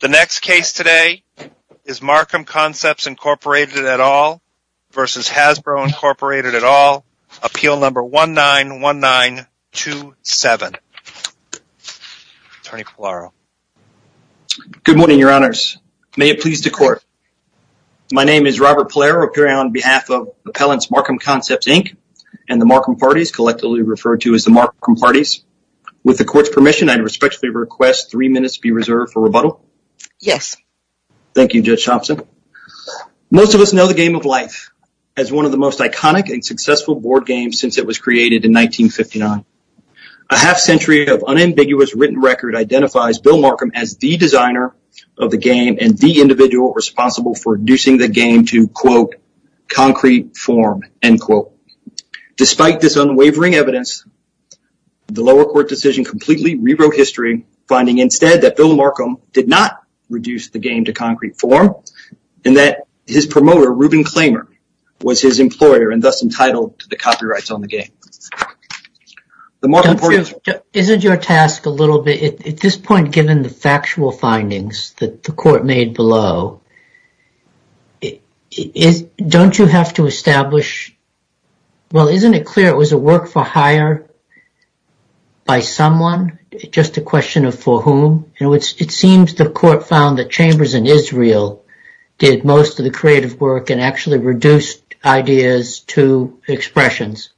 The next case today is Markham Concepts, Inc. v. Hasbro, Inc. Appeal Number 191927. Attorney Pallaro. Good morning, Your Honors. May it please the Court. My name is Robert Pallaro, appearing on behalf of Appellants Markham Concepts, Inc. and the Markham Parties, collectively referred to as the Markham Parties. With the Court's permission, I respectfully request three minutes be reserved for rebuttal. Yes. Thank you, Judge Thompson. Most of us know the Game of Life as one of the most iconic and successful board games since it was created in 1959. A half century of unambiguous written record identifies Bill Markham as the designer of the game and the individual responsible for inducing the game to, quote, concrete form, end quote. Despite this unwavering evidence, the lower court decision completely rewrote history, finding instead that Bill Markham did not reduce the game to concrete form and that his promoter, Reuben Klamer, was his employer and thus entitled to the copyrights on the game. Isn't your task a little bit, at this point, given the factual findings that the Court made below, don't you have to establish, well, isn't it clear it was a work for hire by someone? Just a question of for whom? It seems the Court found that Chambers and Israel did most of the creative work and actually reduced ideas to expressions.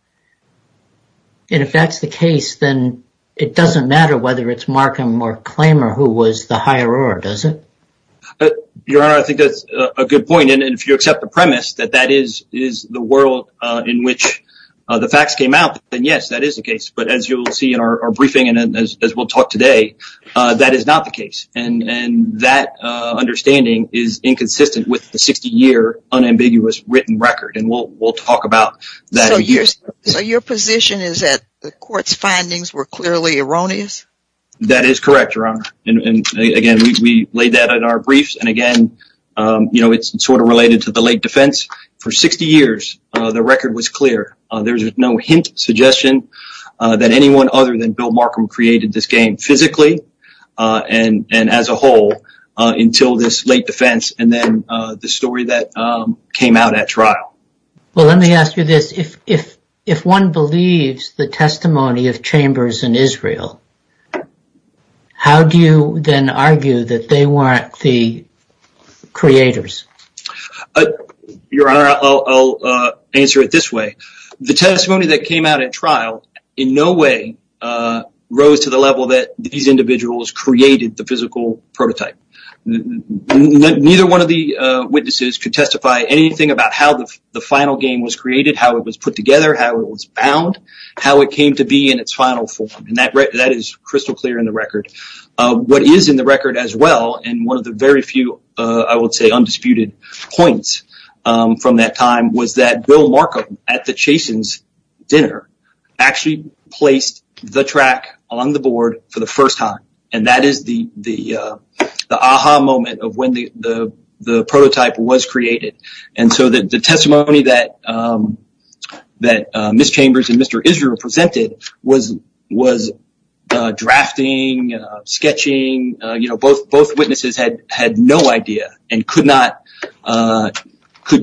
And if that's the case, then it doesn't matter whether it's Markham or Klamer who was the hirer, does it? Your Honor, I think that's a good point. And if you accept the premise that that is the world in which the facts came out, then yes, that is the case. But as you'll see in our briefing and as we'll talk today, that is not the case. And that understanding is inconsistent with the 60-year unambiguous written record. And we'll talk about that in years. So your position is that the Court's findings were clearly erroneous? That is correct, Your Honor. And, again, we laid that out in our briefs. And, again, you know, it's sort of related to the late defense. For 60 years, the record was clear. There's no hint, suggestion that anyone other than Bill Markham created this game physically and as a whole until this late defense Well, let me ask you this. If one believes the testimony of Chambers and Israel, how do you then argue that they weren't the creators? Your Honor, I'll answer it this way. The testimony that came out at trial in no way rose to the level that these individuals created the physical prototype. Neither one of the witnesses could testify anything about how the final game was created, how it was put together, how it was bound, how it came to be in its final form. And that is crystal clear in the record. What is in the record as well, and one of the very few, I would say, undisputed points from that time, was that Bill Markham at the Chasen's dinner actually placed the track on the board for the first time. And that is the aha moment of when the prototype was created. And so the testimony that Ms. Chambers and Mr. Israel presented was drafting, sketching. Both witnesses had no idea and could not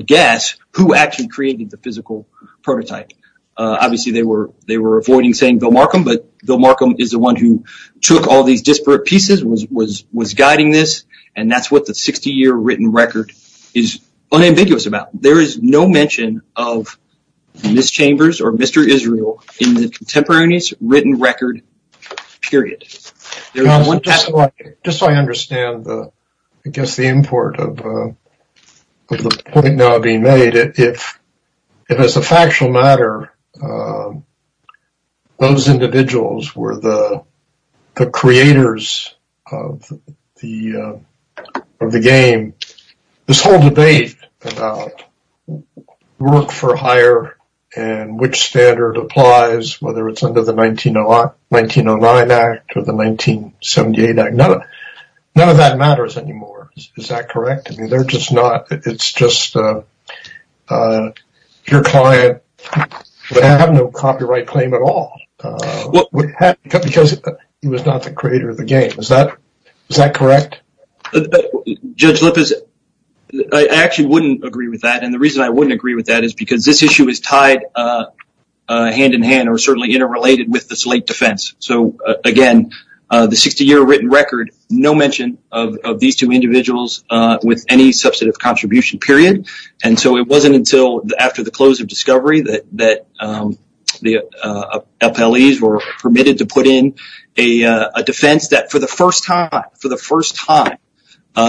guess who actually created the physical prototype. Obviously, they were avoiding saying Bill Markham, but Bill Markham is the one who took all these disparate pieces, was guiding this, and that's what the 60-year written record is unambiguous about. There is no mention of Ms. Chambers or Mr. Israel in the contemporaneous written record period. Just so I understand, I guess, the import of the point now being made, if as a factual matter those individuals were the creators of the game, this whole debate about work for hire and which standard applies, whether it's under the 1909 Act or the 1978 Act, none of that matters anymore. Is that correct? I mean, it's just your client would have no copyright claim at all because he was not the creator of the game. Is that correct? Judge Lippis, I actually wouldn't agree with that. And the reason I wouldn't agree with that is because this issue is tied hand-in-hand or certainly interrelated with the slate defense. So, again, the 60-year written record, no mention of these two individuals with any substantive contribution, period. And so it wasn't until after the close of discovery that the appellees were permitted to put in a defense that, for the first time,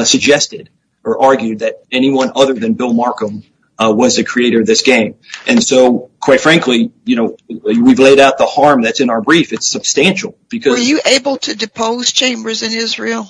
suggested or argued that anyone other than Bill Markham was the creator of this game. And so, quite frankly, we've laid out the harm that's in our brief. It's substantial. Were you able to depose Chambers and Israel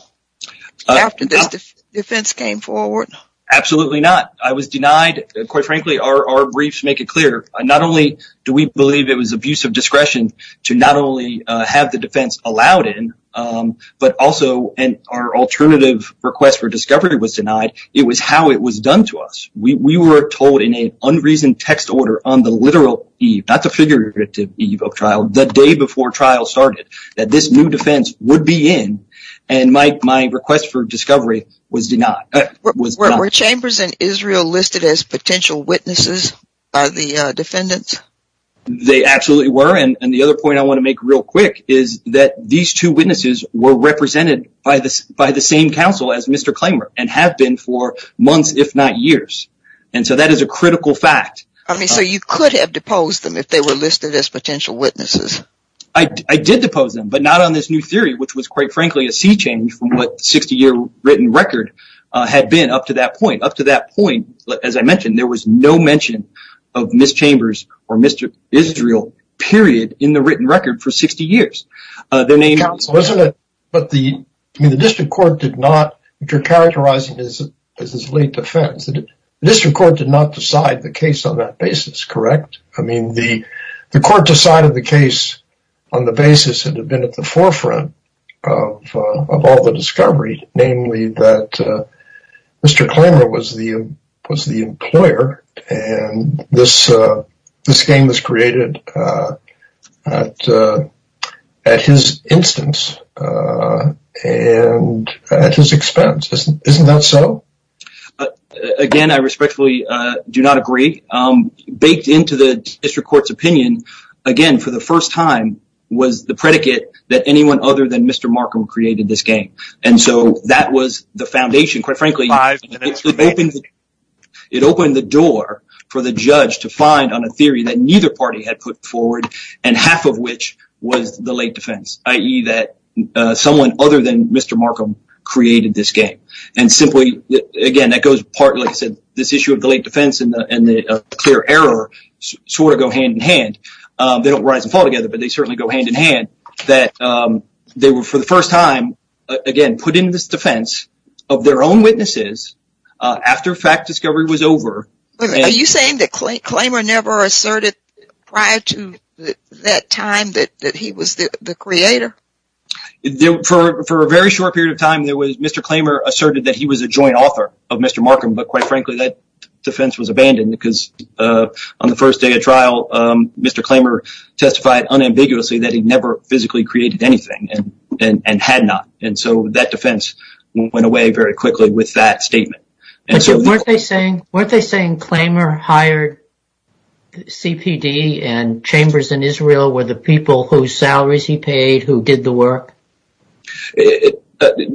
after this defense came forward? Absolutely not. I was denied. Quite frankly, our briefs make it clear. Not only do we believe it was abuse of discretion to not only have the defense allowed in, but also our alternative request for discovery was denied. It was how it was done to us. We were told in an unreasoned text order on the literal eve, not the figurative eve of trial, the day before trial started, that this new defense would be in. And my request for discovery was denied. Were Chambers and Israel listed as potential witnesses by the defendants? They absolutely were. And the other point I want to make real quick is that these two witnesses were represented by the same counsel as Mr. Klamer and have been for months, if not years. And so that is a critical fact. So you could have deposed them if they were listed as potential witnesses? I did depose them, but not on this new theory, which was, quite frankly, a sea change from what the 60-year written record had been up to that point. Up to that point, as I mentioned, there was no mention of Ms. Chambers or Mr. Israel, period, in the written record for 60 years. Their name was... Counsel, isn't it... But the district court did not... You're characterizing this as a late defense. The district court did not decide the case on that basis, correct? I mean, the court decided the case on the basis it had been at the forefront of all the discovery, namely that Mr. Klamer was the employer and this game was created at his instance and at his expense. Isn't that so? Again, I respectfully do not agree. Baked into the district court's opinion, again, for the first time, was the predicate that anyone other than Mr. Markham created this game. And so that was the foundation, quite frankly. It opened the door for the judge to find on a theory that neither party had put forward, and half of which was the late defense, i.e. that someone other than Mr. Markham created this game. And simply, again, that goes partly to this issue of the late defense and the clear error sort of go hand in hand. They don't rise and fall together, but they certainly go hand in hand. That they were, for the first time, again, put into this defense of their own witnesses after fact discovery was over. Are you saying that Klamer never asserted prior to that time that he was the creator? For a very short period of time, Mr. Klamer asserted that he was a joint author of Mr. Markham. But quite frankly, that defense was abandoned because on the first day of trial, Mr. Klamer testified unambiguously that he never physically created anything and had not. And so that defense went away very quickly with that statement. Weren't they saying Klamer hired CPD and Chambers and Israel were the people whose salaries he paid who did the work?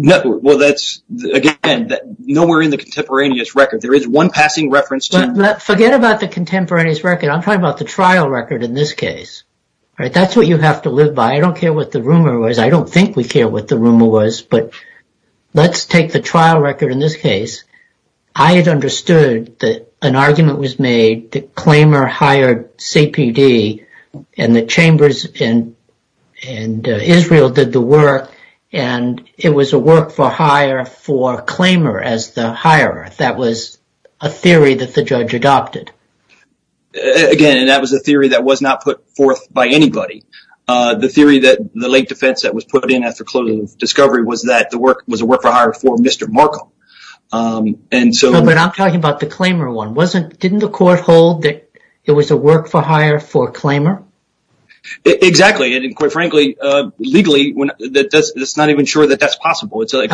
Well, that's, again, nowhere in the contemporaneous record. There is one passing reference to… Forget about the contemporaneous record. I'm talking about the trial record in this case. That's what you have to live by. I don't care what the rumor was. I don't think we care what the rumor was. But let's take the trial record in this case. I had understood that an argument was made that Klamer hired CPD and the Chambers and Israel did the work. And it was a work for hire for Klamer as the hire. That was a theory that the judge adopted. Again, that was a theory that was not put forth by anybody. The theory that the late defense that was put in after closure of discovery was that the work was a work for hire for Mr. Markle. But I'm talking about the Klamer one. Didn't the court hold that it was a work for hire for Klamer? Exactly. And quite frankly, legally, it's not even sure that that's possible. Take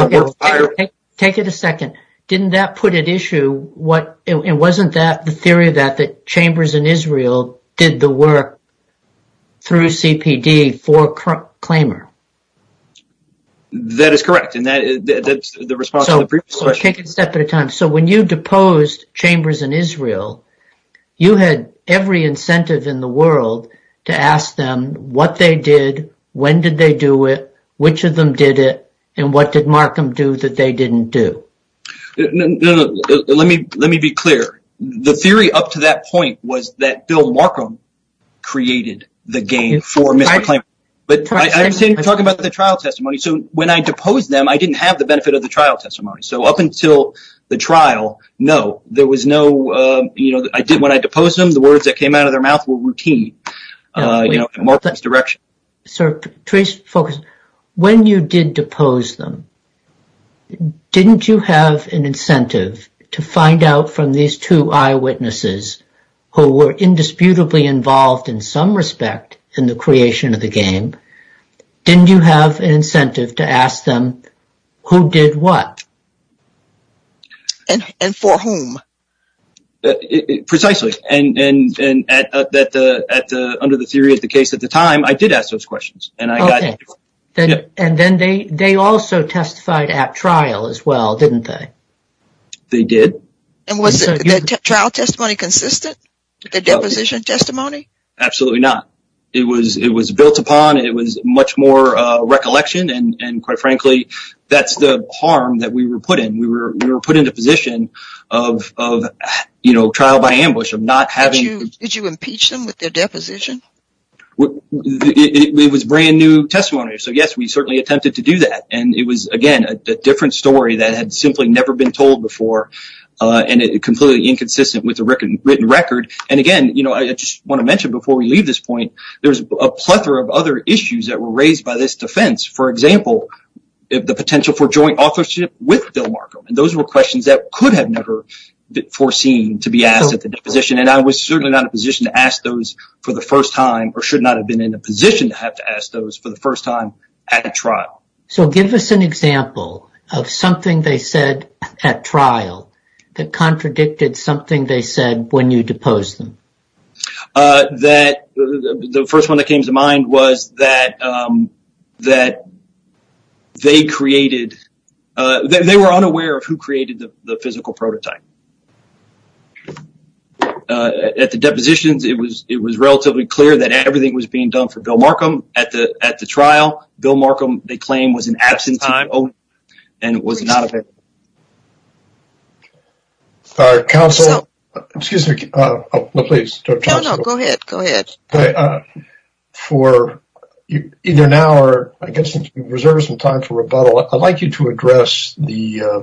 it a second. Didn't that put at issue… wasn't that the theory that the Chambers and Israel did the work through CPD for Klamer? That is correct. And that's the response to the previous question. So when you deposed Chambers and Israel, you had every incentive in the world to ask them what they did, when did they do it, which of them did it, and what did Markham do that they didn't do? Let me be clear. The theory up to that point was that Bill Markham created the game for Mr. Klamer. But I'm talking about the trial testimony. So when I deposed them, I didn't have the benefit of the trial testimony. So up until the trial, no, there was no… when I deposed them, the words that came out of their mouth were routine in Markham's direction. Sir, Patrice, focus. When you did depose them, didn't you have an incentive to find out from these two eyewitnesses who were indisputably involved in some respect in the creation of the game, didn't you have an incentive to ask them who did what? And for whom? Precisely. And under the theory of the case at the time, I did ask those questions. Okay. And then they also testified at trial as well, didn't they? They did. And was the trial testimony consistent with the deposition testimony? Absolutely not. It was built upon. It was much more recollection. And quite frankly, that's the harm that we were put in. We were put in a position of trial by ambush, of not having… Did you impeach them with their deposition? It was brand new testimony. So yes, we certainly attempted to do that. And it was, again, a different story that had simply never been told before and completely inconsistent with the written record. And again, I just want to mention before we leave this point, there's a plethora of other issues that were raised by this defense. For example, the potential for joint authorship with Bill Markham. And those were questions that could have never been foreseen to be asked at the deposition. And I was certainly not in a position to ask those for the first time or should not have been in a position to have to ask those for the first time at a trial. So give us an example of something they said at trial that contradicted something they said when you deposed them. The first one that came to mind was that they were unaware of who created the physical prototype. At the depositions, it was relatively clear that everything was being done for Bill Markham. At the trial, Bill Markham, they claim, was in absentia and was not available. Council, excuse me, please. No, no, go ahead. Go ahead. For either now or I guess if you reserve some time for rebuttal, I'd like you to address the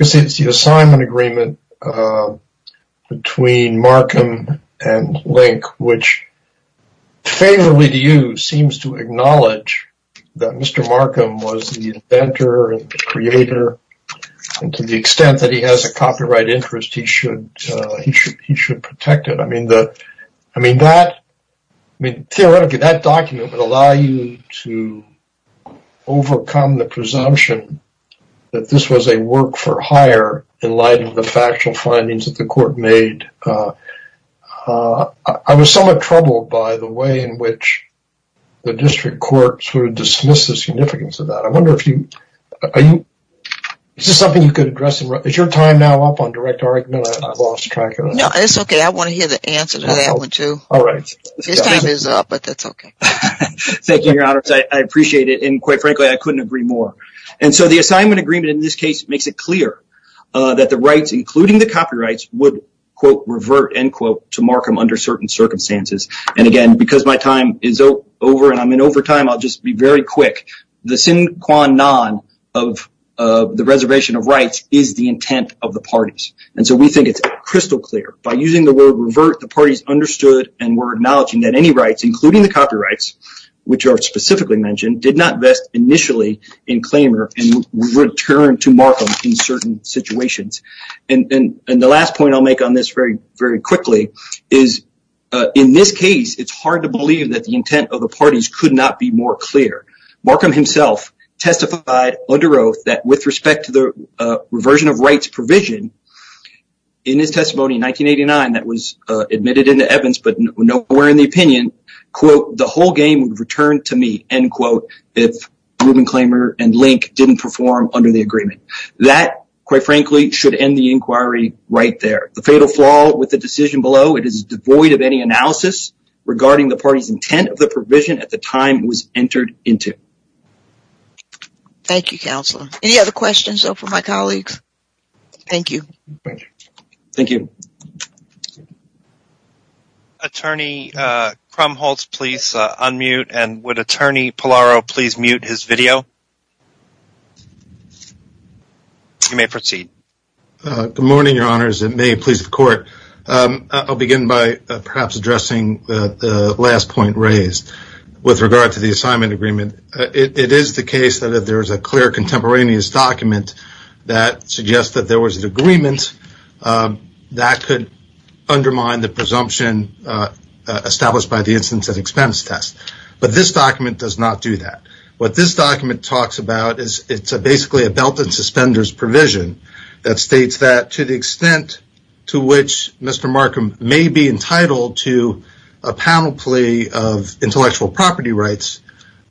assignment agreement between Markham and Link, which favorably to you seems to acknowledge that Mr. Markham was the inventor and creator. And to the extent that he has a copyright interest, he should protect it. I mean, theoretically, that document would allow you to overcome the presumption that this was a work for hire in light of the factual findings that the court made. I was somewhat troubled by the way in which the district court sort of dismissed the significance of that. I wonder if you, is this something you could address? Is your time now up on direct? No, it's okay. I want to hear the answer to that one too. This time is up, but that's okay. Thank you, Your Honor. I appreciate it. And quite frankly, I couldn't agree more. And so the assignment agreement in this case makes it clear that the rights, including the copyrights, would, quote, revert, end quote, to Markham under certain circumstances. And again, because my time is over and I'm in overtime, I'll just be very quick. The sine qua non of the reservation of rights is the intent of the parties. And so we think it's crystal clear by using the word revert, the parties understood and were acknowledging that any rights, including the copyrights, which are specifically mentioned, did not vest initially in Claymore and returned to Markham in certain situations. And the last point I'll make on this very, very quickly is in this case, it's hard to believe that the intent of the parties could not be more clear. Markham himself testified under oath that with respect to the reversion of rights provision in his testimony in 1989 that was admitted into Evans, but nowhere in the opinion, quote, the whole game returned to me, end quote. If Rubin, Claymore and Link didn't perform under the agreement, that, quite frankly, should end the inquiry right there. The fatal flaw with the decision below, it is devoid of any analysis regarding the party's intent of the provision at the time was entered into. Thank you, counselor. Any other questions for my colleagues? Thank you. Thank you. Attorney Krumholtz, please unmute. And would Attorney Pallaro please mute his video? You may proceed. Good morning, your honors. It may please the court. I'll begin by perhaps addressing the last point raised with regard to the assignment agreement. It is the case that if there is a clear contemporaneous document that suggests that there was an agreement, that could undermine the presumption established by the instance of expense test. But this document does not do that. What this document talks about is it's basically a belt and suspenders provision that states that to the extent to which Mr. Markham may be entitled to a panel plea of intellectual property rights,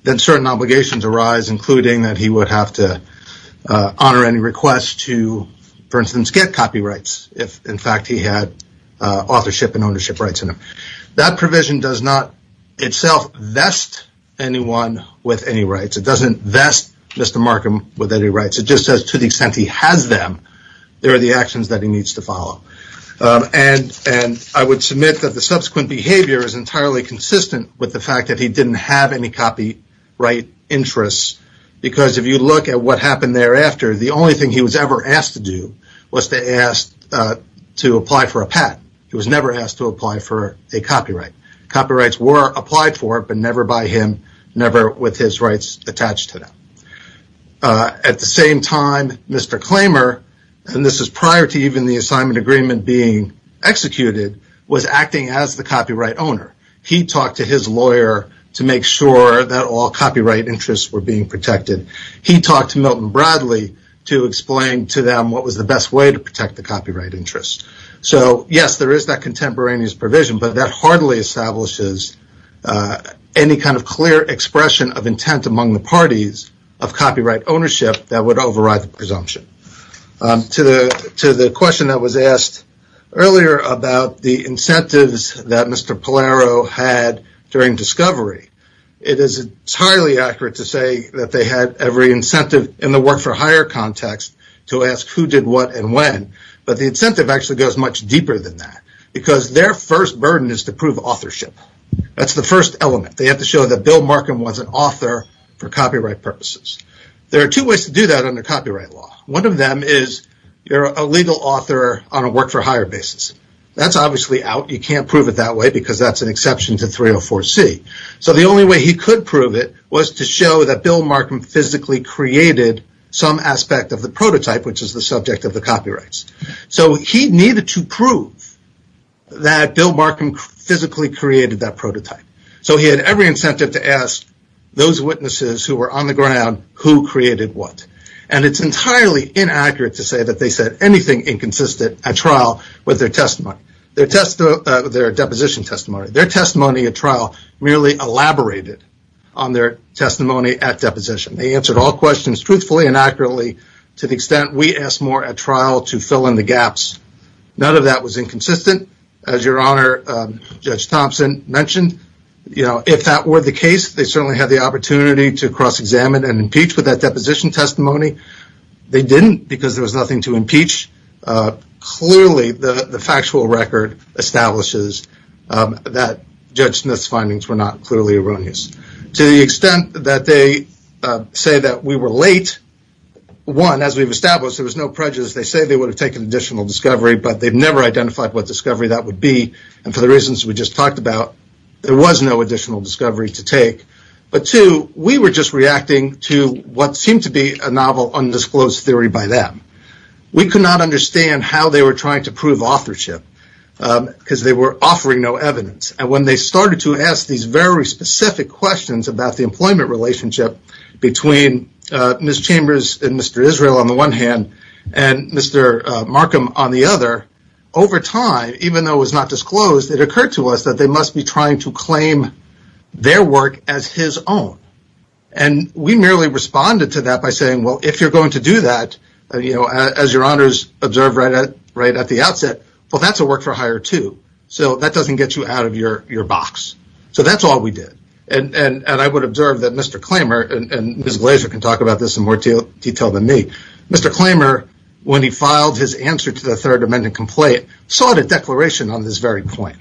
then certain obligations arise, including that he would have to honor any request to, for instance, get copyrights. If, in fact, he had authorship and ownership rights in him. That provision does not itself vest anyone with any rights. It doesn't vest Mr. Markham with any rights. It just says to the extent he has them, there are the actions that he needs to follow. And I would submit that the subsequent behavior is entirely consistent with the fact that he didn't have any copyright interests. Because if you look at what happened thereafter, the only thing he was ever asked to do was to ask to apply for a patent. He was never asked to apply for a copyright. Copyrights were applied for, but never by him, never with his rights attached to them. At the same time, Mr. Klamer, and this is prior to even the assignment agreement being executed, was acting as the copyright owner. He talked to his lawyer to make sure that all copyright interests were being protected. He talked to Milton Bradley to explain to them what was the best way to protect the copyright interest. So, yes, there is that contemporaneous provision, but that hardly establishes any kind of clear expression of intent among the parties of copyright ownership that would override the presumption. To the question that was asked earlier about the incentives that Mr. Pallaro had during discovery, it is entirely accurate to say that they had every incentive in the work for hire context to ask who did what and when. But the incentive actually goes much deeper than that because their first burden is to prove authorship. That's the first element. They have to show that Bill Markham was an author for copyright purposes. There are two ways to do that under copyright law. One of them is you're a legal author on a work for hire basis. That's obviously out. You can't prove it that way because that's an exception to 304C. So the only way he could prove it was to show that Bill Markham physically created some aspect of the prototype, which is the subject of the copyrights. So he needed to prove that Bill Markham physically created that prototype. So he had every incentive to ask those witnesses who were on the ground who created what. And it's entirely inaccurate to say that they said anything inconsistent at trial with their testimony, their deposition testimony, their testimony at trial merely elaborated on their testimony at deposition. They answered all questions truthfully and accurately to the extent we asked more at trial to fill in the gaps. None of that was inconsistent. As your Honor, Judge Thompson mentioned, you know, if that were the case, they certainly had the opportunity to cross-examine and impeach with that deposition testimony. Clearly, the factual record establishes that Judge Smith's findings were not clearly erroneous. To the extent that they say that we were late, one, as we've established, there was no prejudice. They say they would have taken additional discovery, but they've never identified what discovery that would be. And for the reasons we just talked about, there was no additional discovery to take. But two, we were just reacting to what seemed to be a novel undisclosed theory by them. We could not understand how they were trying to prove authorship because they were offering no evidence. And when they started to ask these very specific questions about the employment relationship between Ms. Chambers and Mr. Israel on the one hand, and Mr. Markham on the other, over time, even though it was not disclosed, it occurred to us that they must be trying to claim their work as his own. And we merely responded to that by saying, well, if you're going to do that, as your honors observed right at the outset, well, that's a work for hire, too. So that doesn't get you out of your box. So that's all we did. And I would observe that Mr. Klamer, and Ms. Glazer can talk about this in more detail than me, Mr. Klamer, when he filed his answer to the Third Amendment complaint, sought a declaration on this very point.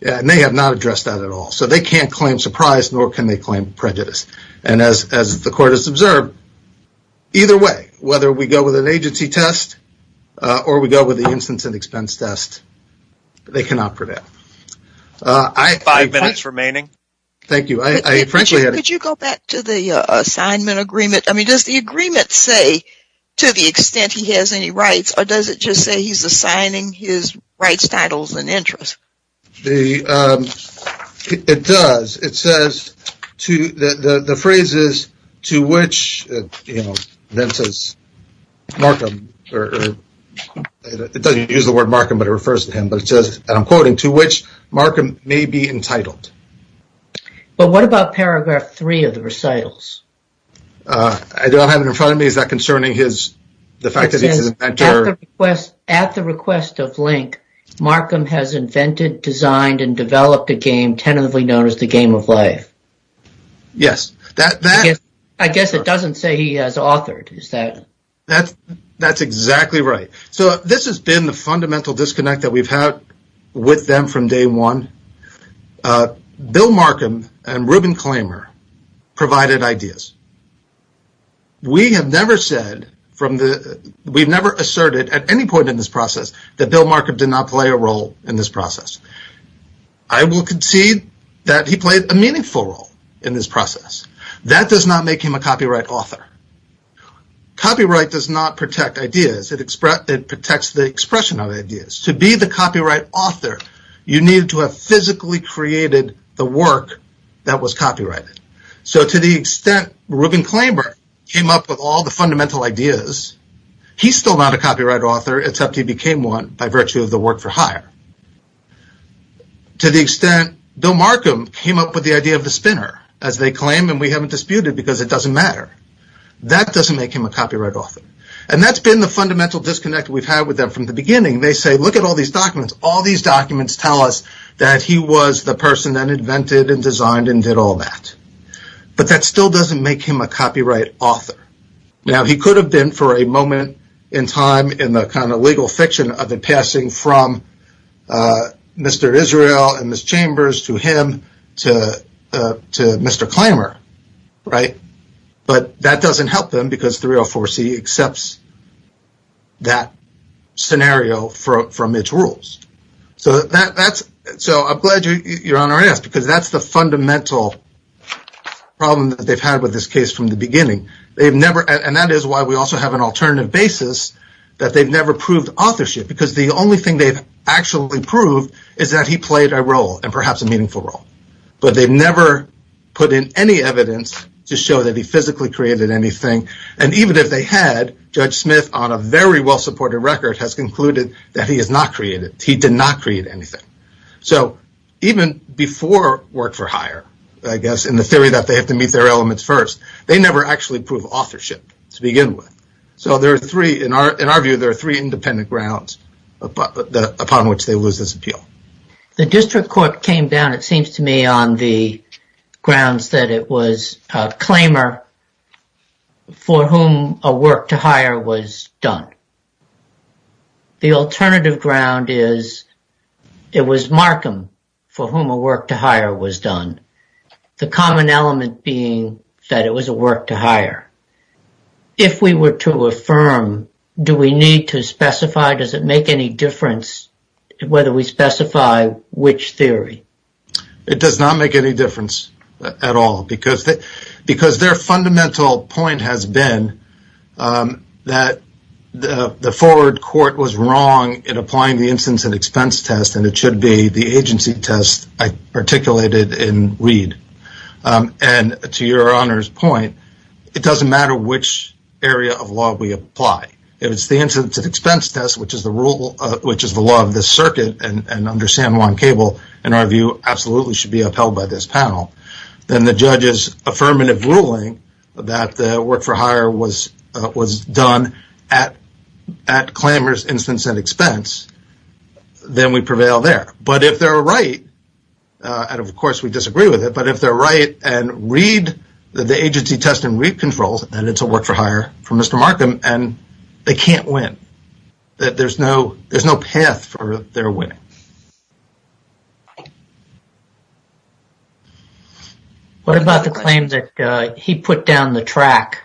And they have not addressed that at all. So they can't claim surprise, nor can they claim prejudice. And as the court has observed, either way, whether we go with an agency test or we go with the instance and expense test, they cannot prevent. Five minutes remaining. Thank you. Could you go back to the assignment agreement? I mean, does the agreement say to the extent he has any rights, or does it just say he's assigning his rights, titles, and interests? It does. It says, the phrase is, to which, you know, then says Markham, or it doesn't use the word Markham, but it refers to him. But it says, and I'm quoting, to which Markham may be entitled. But what about paragraph three of the recitals? I don't have it in front of me. Is that concerning his, the fact that he's an inventor? At the request of Link, Markham has invented, designed, and developed a game tentatively known as the Game of Life. Yes. I guess it doesn't say he has authored, is that? That's exactly right. So this has been the fundamental disconnect that we've had with them from day one. Bill Markham and Reuben Klamer provided ideas. We have never said, we've never asserted at any point in this process that Bill Markham did not play a role in this process. I will concede that he played a meaningful role in this process. That does not make him a copyright author. Copyright does not protect ideas, it protects the expression of ideas. To be the copyright author, you need to have physically created the work that was copyrighted. So to the extent Reuben Klamer came up with all the fundamental ideas, he's still not a copyright author except he became one by virtue of the work for hire. To the extent Bill Markham came up with the idea of the spinner, as they claim and we haven't disputed because it doesn't matter. That doesn't make him a copyright author. And that's been the fundamental disconnect we've had with them from the beginning. They say look at all these documents. All these documents tell us that he was the person that invented and designed and did all that. But that still doesn't make him a copyright author. Now he could have been for a moment in time in the kind of legal fiction of the passing from Mr. Israel and Ms. Chambers to him to Mr. Klamer, right? But that doesn't help them because 304C accepts that scenario from its rules. So I'm glad you're on our end because that's the fundamental problem that they've had with this case from the beginning. And that is why we also have an alternative basis that they've never proved authorship because the only thing they've actually proved is that he played a role and perhaps a meaningful role. But they've never put in any evidence to show that he physically created anything. And even if they had, Judge Smith on a very well-supported record has concluded that he has not created, he did not create anything. So even before Work for Hire, I guess in the theory that they have to meet their elements first, they never actually proved authorship to begin with. So there are three, in our view, there are three independent grounds upon which they lose this appeal. The district court came down, it seems to me, on the grounds that it was Klamer for whom a Work for Hire was done. The alternative ground is it was Markham for whom a Work for Hire was done. The common element being that it was a Work for Hire. If we were to affirm, do we need to specify, does it make any difference whether we specify which theory? It does not make any difference at all because their fundamental point has been that the forward court was wrong in applying the instance and expense test and it should be the agency test articulated in Reed. And to your Honor's point, it does not matter which area of law we apply. If it is the instance and expense test, which is the law of the circuit and under San Juan Cable, in our view, absolutely should be upheld by this panel. Then the judge's affirmative ruling that the Work for Hire was done at Klamer's instance and expense, then we prevail there. But if they're right, and of course we disagree with it, but if they're right and Reed, the agency test in Reed controls, then it's a Work for Hire for Mr. Markham and they can't win. There's no path for their winning. What about the claim that he put down the track?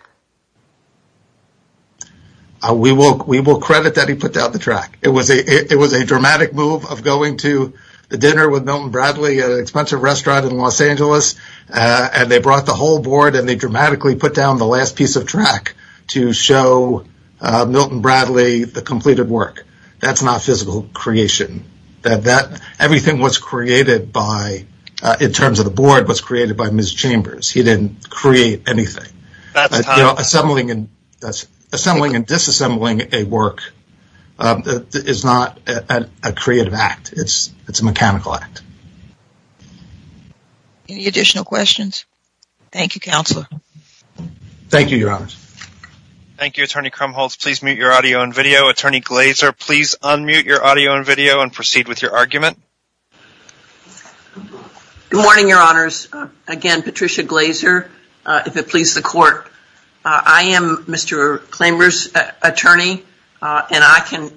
We will credit that he put down the track. It was a dramatic move of going to the dinner with Milton Bradley at an expensive restaurant in Los Angeles and they brought the whole board and they dramatically put down the last piece of track to show Milton Bradley the completed work. That's not physical creation. Everything was created by, in terms of the board, was created by Ms. Chambers. He didn't create anything. Assembling and disassembling a work is not a creative act. It's a mechanical act. Any additional questions? Thank you, Counselor. Thank you, Your Honors. Thank you, Attorney Krumholz. Please mute your audio and video. Attorney Glazer, please unmute your audio and video and proceed with your argument. Good morning, Your Honors. Again, Patricia Glazer, if it pleases the Court. I am Mr. Klamer's attorney and I'm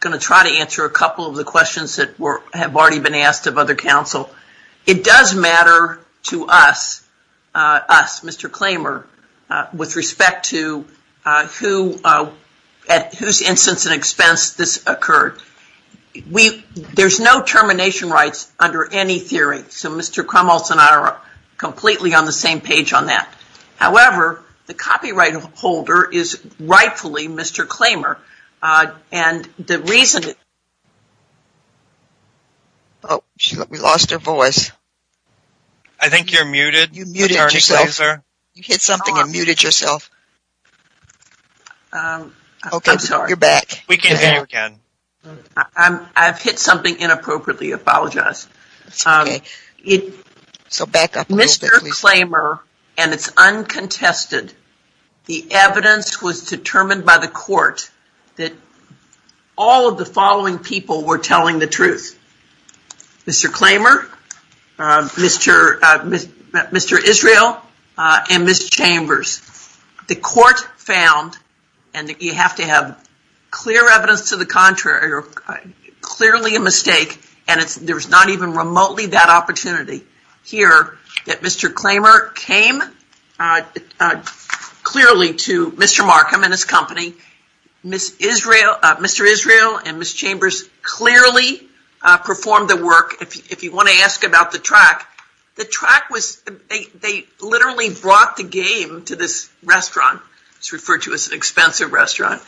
going to try to answer a couple of the questions that have already been asked of other counsel. It does matter to us, Mr. Klamer, with respect to whose instance and expense this occurred. There's no termination rights under any theory, so Mr. Krumholz and I are completely on the same page on that. However, the copyright holder is rightfully Mr. Klamer and the reason... Oh, we lost her voice. I think you're muted, Attorney Glazer. You hit something and muted yourself. I'm sorry. You're back. We can hear you again. I've hit something inappropriately. I apologize. It's okay. So back up a little bit, please. Mr. Klamer, and it's uncontested, the evidence was determined by the Court that all of the following people were telling the truth. Mr. Klamer, Mr. Israel, and Ms. Chambers. The Court found, and you have to have clear evidence to the contrary or clearly a mistake, and there's not even remotely that opportunity here, that Mr. Klamer came clearly to Mr. Markham and his company. Mr. Israel and Ms. Chambers clearly performed the work. If you want to ask about the track, the track was... They literally brought the game to this restaurant. It's referred to as an expensive restaurant,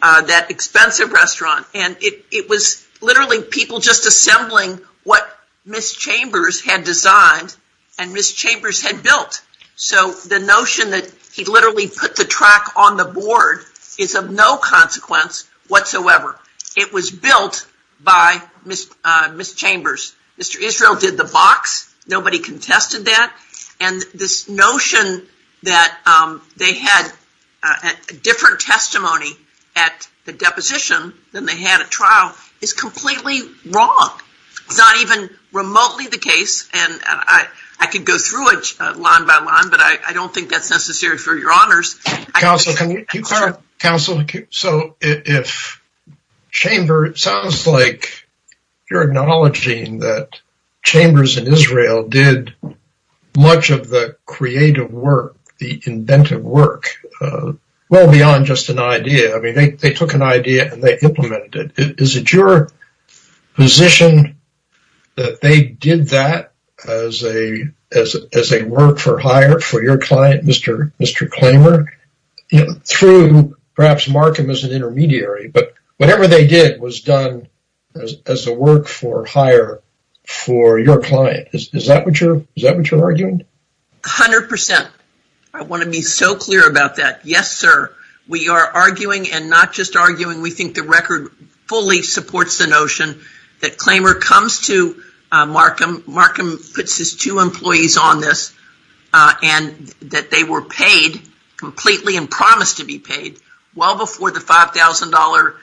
that expensive restaurant, and it was literally people just assembling what Ms. Chambers had designed and Ms. Chambers had built. So the notion that he literally put the track on the board is of no consequence whatsoever. It was built by Ms. Chambers. Mr. Israel did the box. Nobody contested that. And this notion that they had a different testimony at the deposition than they had at trial is completely wrong. It's not even remotely the case, and I could go through it line by line, but I don't think that's necessary for your honors. Counsel, can you clarify? So if Chambers, it sounds like you're acknowledging that Chambers and Israel did much of the creative work, the inventive work, well beyond just an idea. I mean, they took an idea and they implemented it. Is it your position that they did that as a work for hire for your client, Mr. Klamer? Through perhaps Markham as an intermediary, but whatever they did was done as a work for hire for your client. Is that what you're arguing? 100%. I want to be so clear about that. Yes, sir. We are arguing and not just arguing. We think the record fully supports the notion that Klamer comes to Markham, Markham puts his two employees on this, and that they were paid completely and promised to be paid well before the $5,000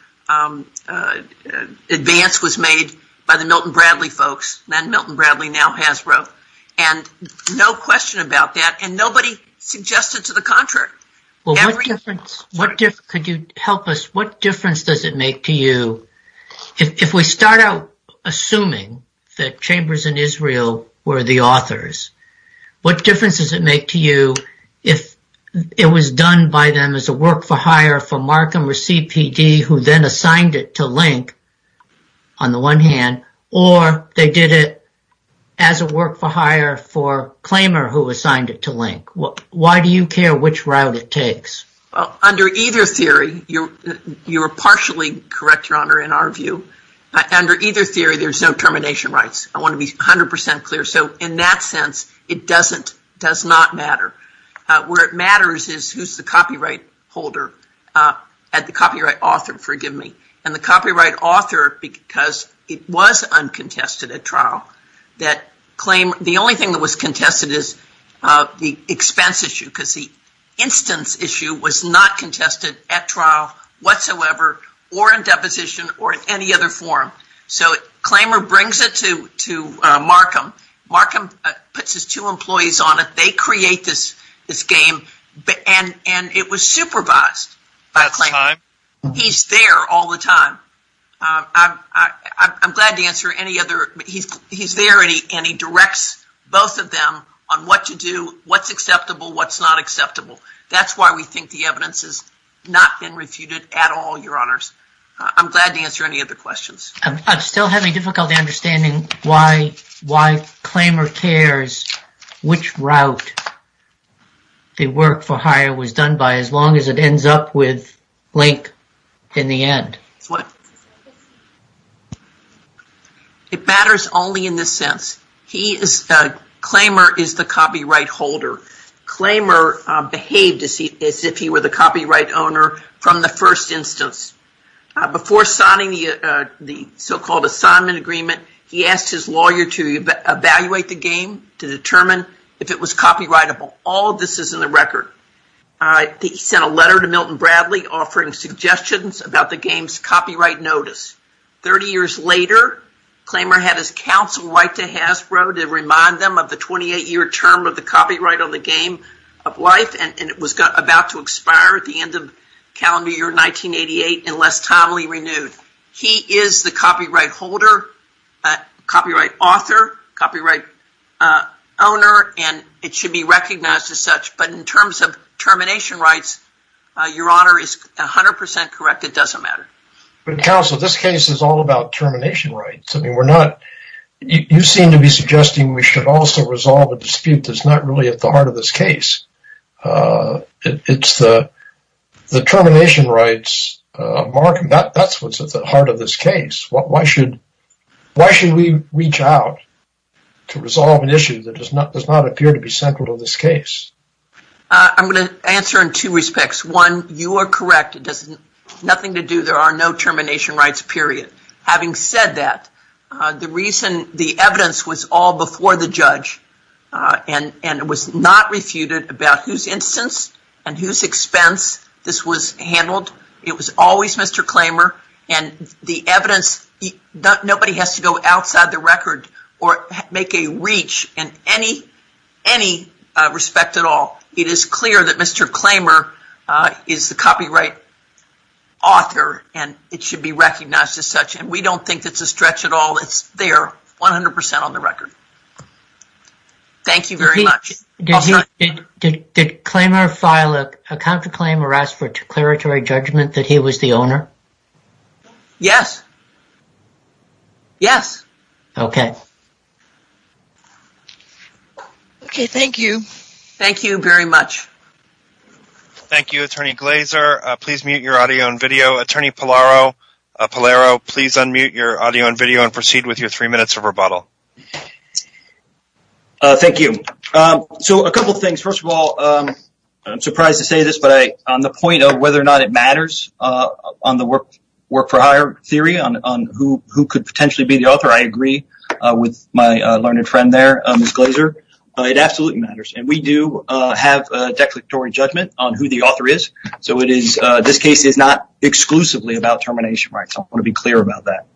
advance was made by the Milton Bradley folks. Milton Bradley now has growth and no question about that. And nobody suggested to the contrary. Well, what difference could you help us? What difference does it make to you if we start out assuming that Chambers and Israel were the authors? What difference does it make to you if it was done by them as a work for hire for Markham or CPD, who then assigned it to Link on the one hand, or they did it as a work for hire for Klamer, who assigned it to Link? Why do you care which route it takes? Under either theory, you're partially correct, Your Honor, in our view. Under either theory, there's no termination rights. I want to be 100% clear. So in that sense, it doesn't, does not matter. Where it matters is who's the copyright holder at the copyright author, forgive me. And the copyright author, because it was uncontested at trial, that Klamer, the only thing that was contested is the expense issue, because the instance issue was not contested at trial whatsoever or in deposition or in any other form. So Klamer brings it to Markham. Markham puts his two employees on it. They create this game, and it was supervised by Klamer. He's there all the time. I'm glad to answer any other, he's there and he directs both of them on what to do, what's acceptable, what's not acceptable. That's why we think the evidence has not been refuted at all, Your Honors. I'm glad to answer any other questions. I'm still having difficulty understanding why Klamer cares which route the work for hire was done by, as long as it ends up with Link in the end. It matters only in this sense. He is, Klamer is the copyright holder. Klamer behaved as if he were the copyright owner from the first instance. Before signing the so-called assignment agreement, he asked his lawyer to evaluate the game, to determine if it was copyrightable. All of this is in the record. He sent a letter to Milton Bradley offering suggestions about the game's copyright notice. Thirty years later, Klamer had his counsel write to Hasbro to remind them of the 28-year term of the copyright on the Game of Life, and it was about to expire at the end of the calendar year 1988 unless timely renewed. He is the copyright holder, copyright author, copyright owner, and it should be recognized as such. But in terms of termination rights, Your Honor is 100% correct it doesn't matter. Counsel, this case is all about termination rights. You seem to be suggesting we should also resolve a dispute that's not really at the heart of this case. It's the termination rights market, that's what's at the heart of this case. Why should we reach out to resolve an issue that does not appear to be central to this case? I'm going to answer in two respects. One, you are correct, it has nothing to do, there are no termination rights, period. Having said that, the reason the evidence was all before the judge, and it was not refuted about whose instance and whose expense this was handled, it was always Mr. Klamer, and the evidence, nobody has to go outside the record or make a reach in any respect at all. It is clear that Mr. Klamer is the copyright author, and it should be recognized as such, and we don't think it's a stretch at all, it's there, 100% on the record. Thank you very much. Did Klamer file a counterclaim or ask for declaratory judgment that he was the owner? Yes. Yes. Okay. Okay, thank you. Thank you very much. Thank you, Attorney Glazer. Please mute your audio and video. Attorney Pallaro, please unmute your audio and video and proceed with your three minutes of rebuttal. Thank you. So a couple things. First of all, I'm surprised to say this, but on the point of whether or not it matters on the work for hire theory, on who could potentially be the author, I agree with my learned friend there, Ms. Glazer. It absolutely matters, and we do have a declaratory judgment on who the author is. So this case is not exclusively about termination rights. I want to be clear about that.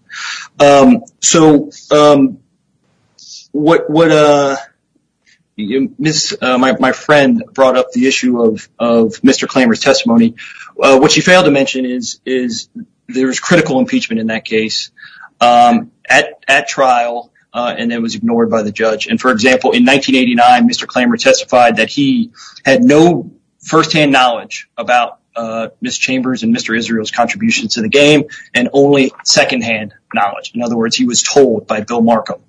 So my friend brought up the issue of Mr. Klamer's testimony. What she failed to mention is there was critical impeachment in that case at trial, and it was ignored by the judge. And, for example, in 1989, Mr. Klamer testified that he had no firsthand knowledge about Ms. Chambers and Mr. Israel's contributions to the game and only secondhand knowledge. In other words, he was told by Bill Markham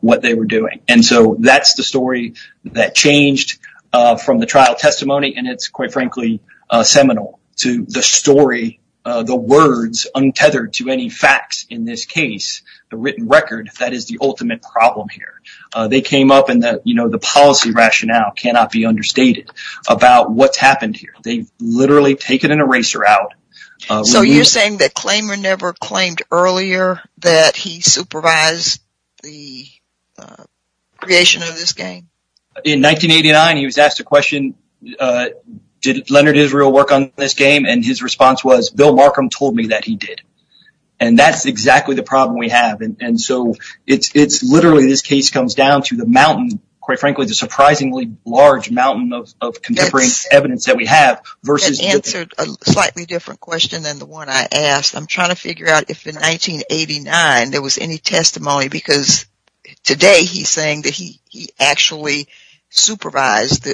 what they were doing. And so that's the story that changed from the trial testimony, and it's, quite frankly, seminal to the story, the words untethered to any facts in this case, the written record, that is the ultimate problem here. They came up and the policy rationale cannot be understated about what's happened here. They've literally taken an eraser out. So you're saying that Klamer never claimed earlier that he supervised the creation of this game? In 1989, he was asked a question, did Leonard Israel work on this game? And his response was, Bill Markham told me that he did. And that's exactly the problem we have. And so it's literally this case comes down to the mountain, quite frankly, the surprisingly large mountain of contemporary evidence that we have. That answered a slightly different question than the one I asked. I'm trying to figure out if in 1989 there was any testimony because today he's saying that he actually supervised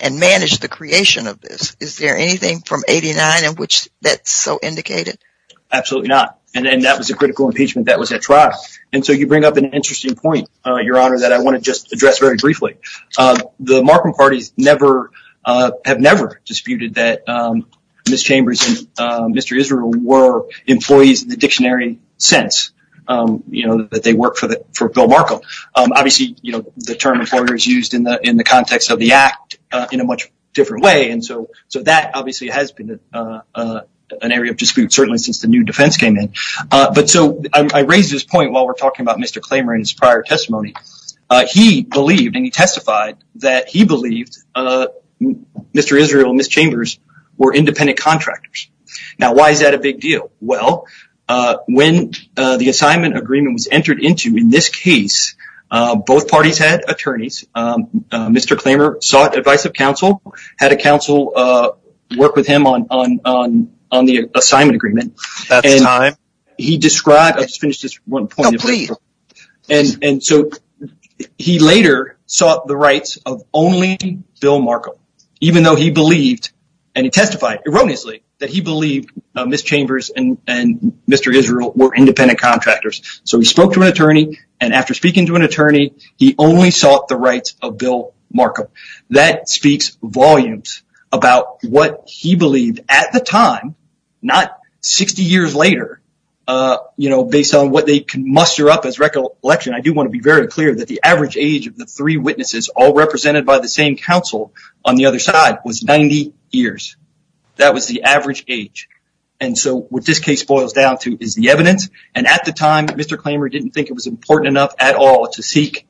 and managed the creation of this. Is there anything from 89 in which that's so indicated? Absolutely not. And that was a critical impeachment that was at trial. And so you bring up an interesting point, Your Honor, that I want to just address very briefly. The Markham parties have never disputed that Ms. Chambers and Mr. Israel were employees in the dictionary sense that they work for Bill Markham. Obviously, the term employer is used in the context of the act in a much different way. And so that obviously has been an area of dispute, certainly since the new defense came in. But so I raise this point while we're talking about Mr. Klamer and his prior testimony. He believed and he testified that he believed Mr. Israel and Ms. Chambers were independent contractors. Now, why is that a big deal? Well, when the assignment agreement was entered into in this case, both parties had attorneys. Mr. Klamer sought advice of counsel, had a counsel work with him on the assignment agreement. He described, I'll just finish this one point. And so he later sought the rights of only Bill Markham, even though he believed and he testified erroneously that he believed Ms. Chambers and Mr. Israel were independent contractors. So he spoke to an attorney and after speaking to an attorney, he only sought the rights of Bill Markham. That speaks volumes about what he believed at the time, not 60 years later, you know, based on what they can muster up as recollection. I do want to be very clear that the average age of the three witnesses all represented by the same counsel on the other side was 90 years. That was the average age. And so what this case boils down to is the evidence. And at the time, Mr. Klamer didn't think it was important enough at all to seek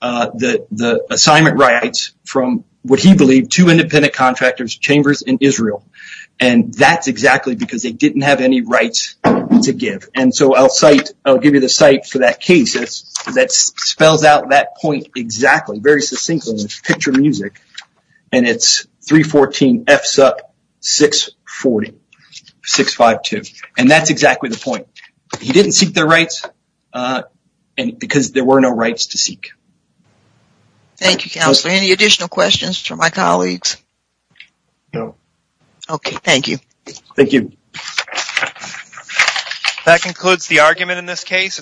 the assignment rights from what he believed to independent contractors, Chambers and Israel. And that's exactly because they didn't have any rights to give. And so I'll cite I'll give you the site for that case that spells out that point. Exactly. Very succinctly picture music. And it's 314 F's up, 640, 652. And that's exactly the point. He didn't seek their rights because there were no rights to seek. Thank you, Counselor. Any additional questions for my colleagues? No. OK, thank you. Thank you. That concludes the argument in this case.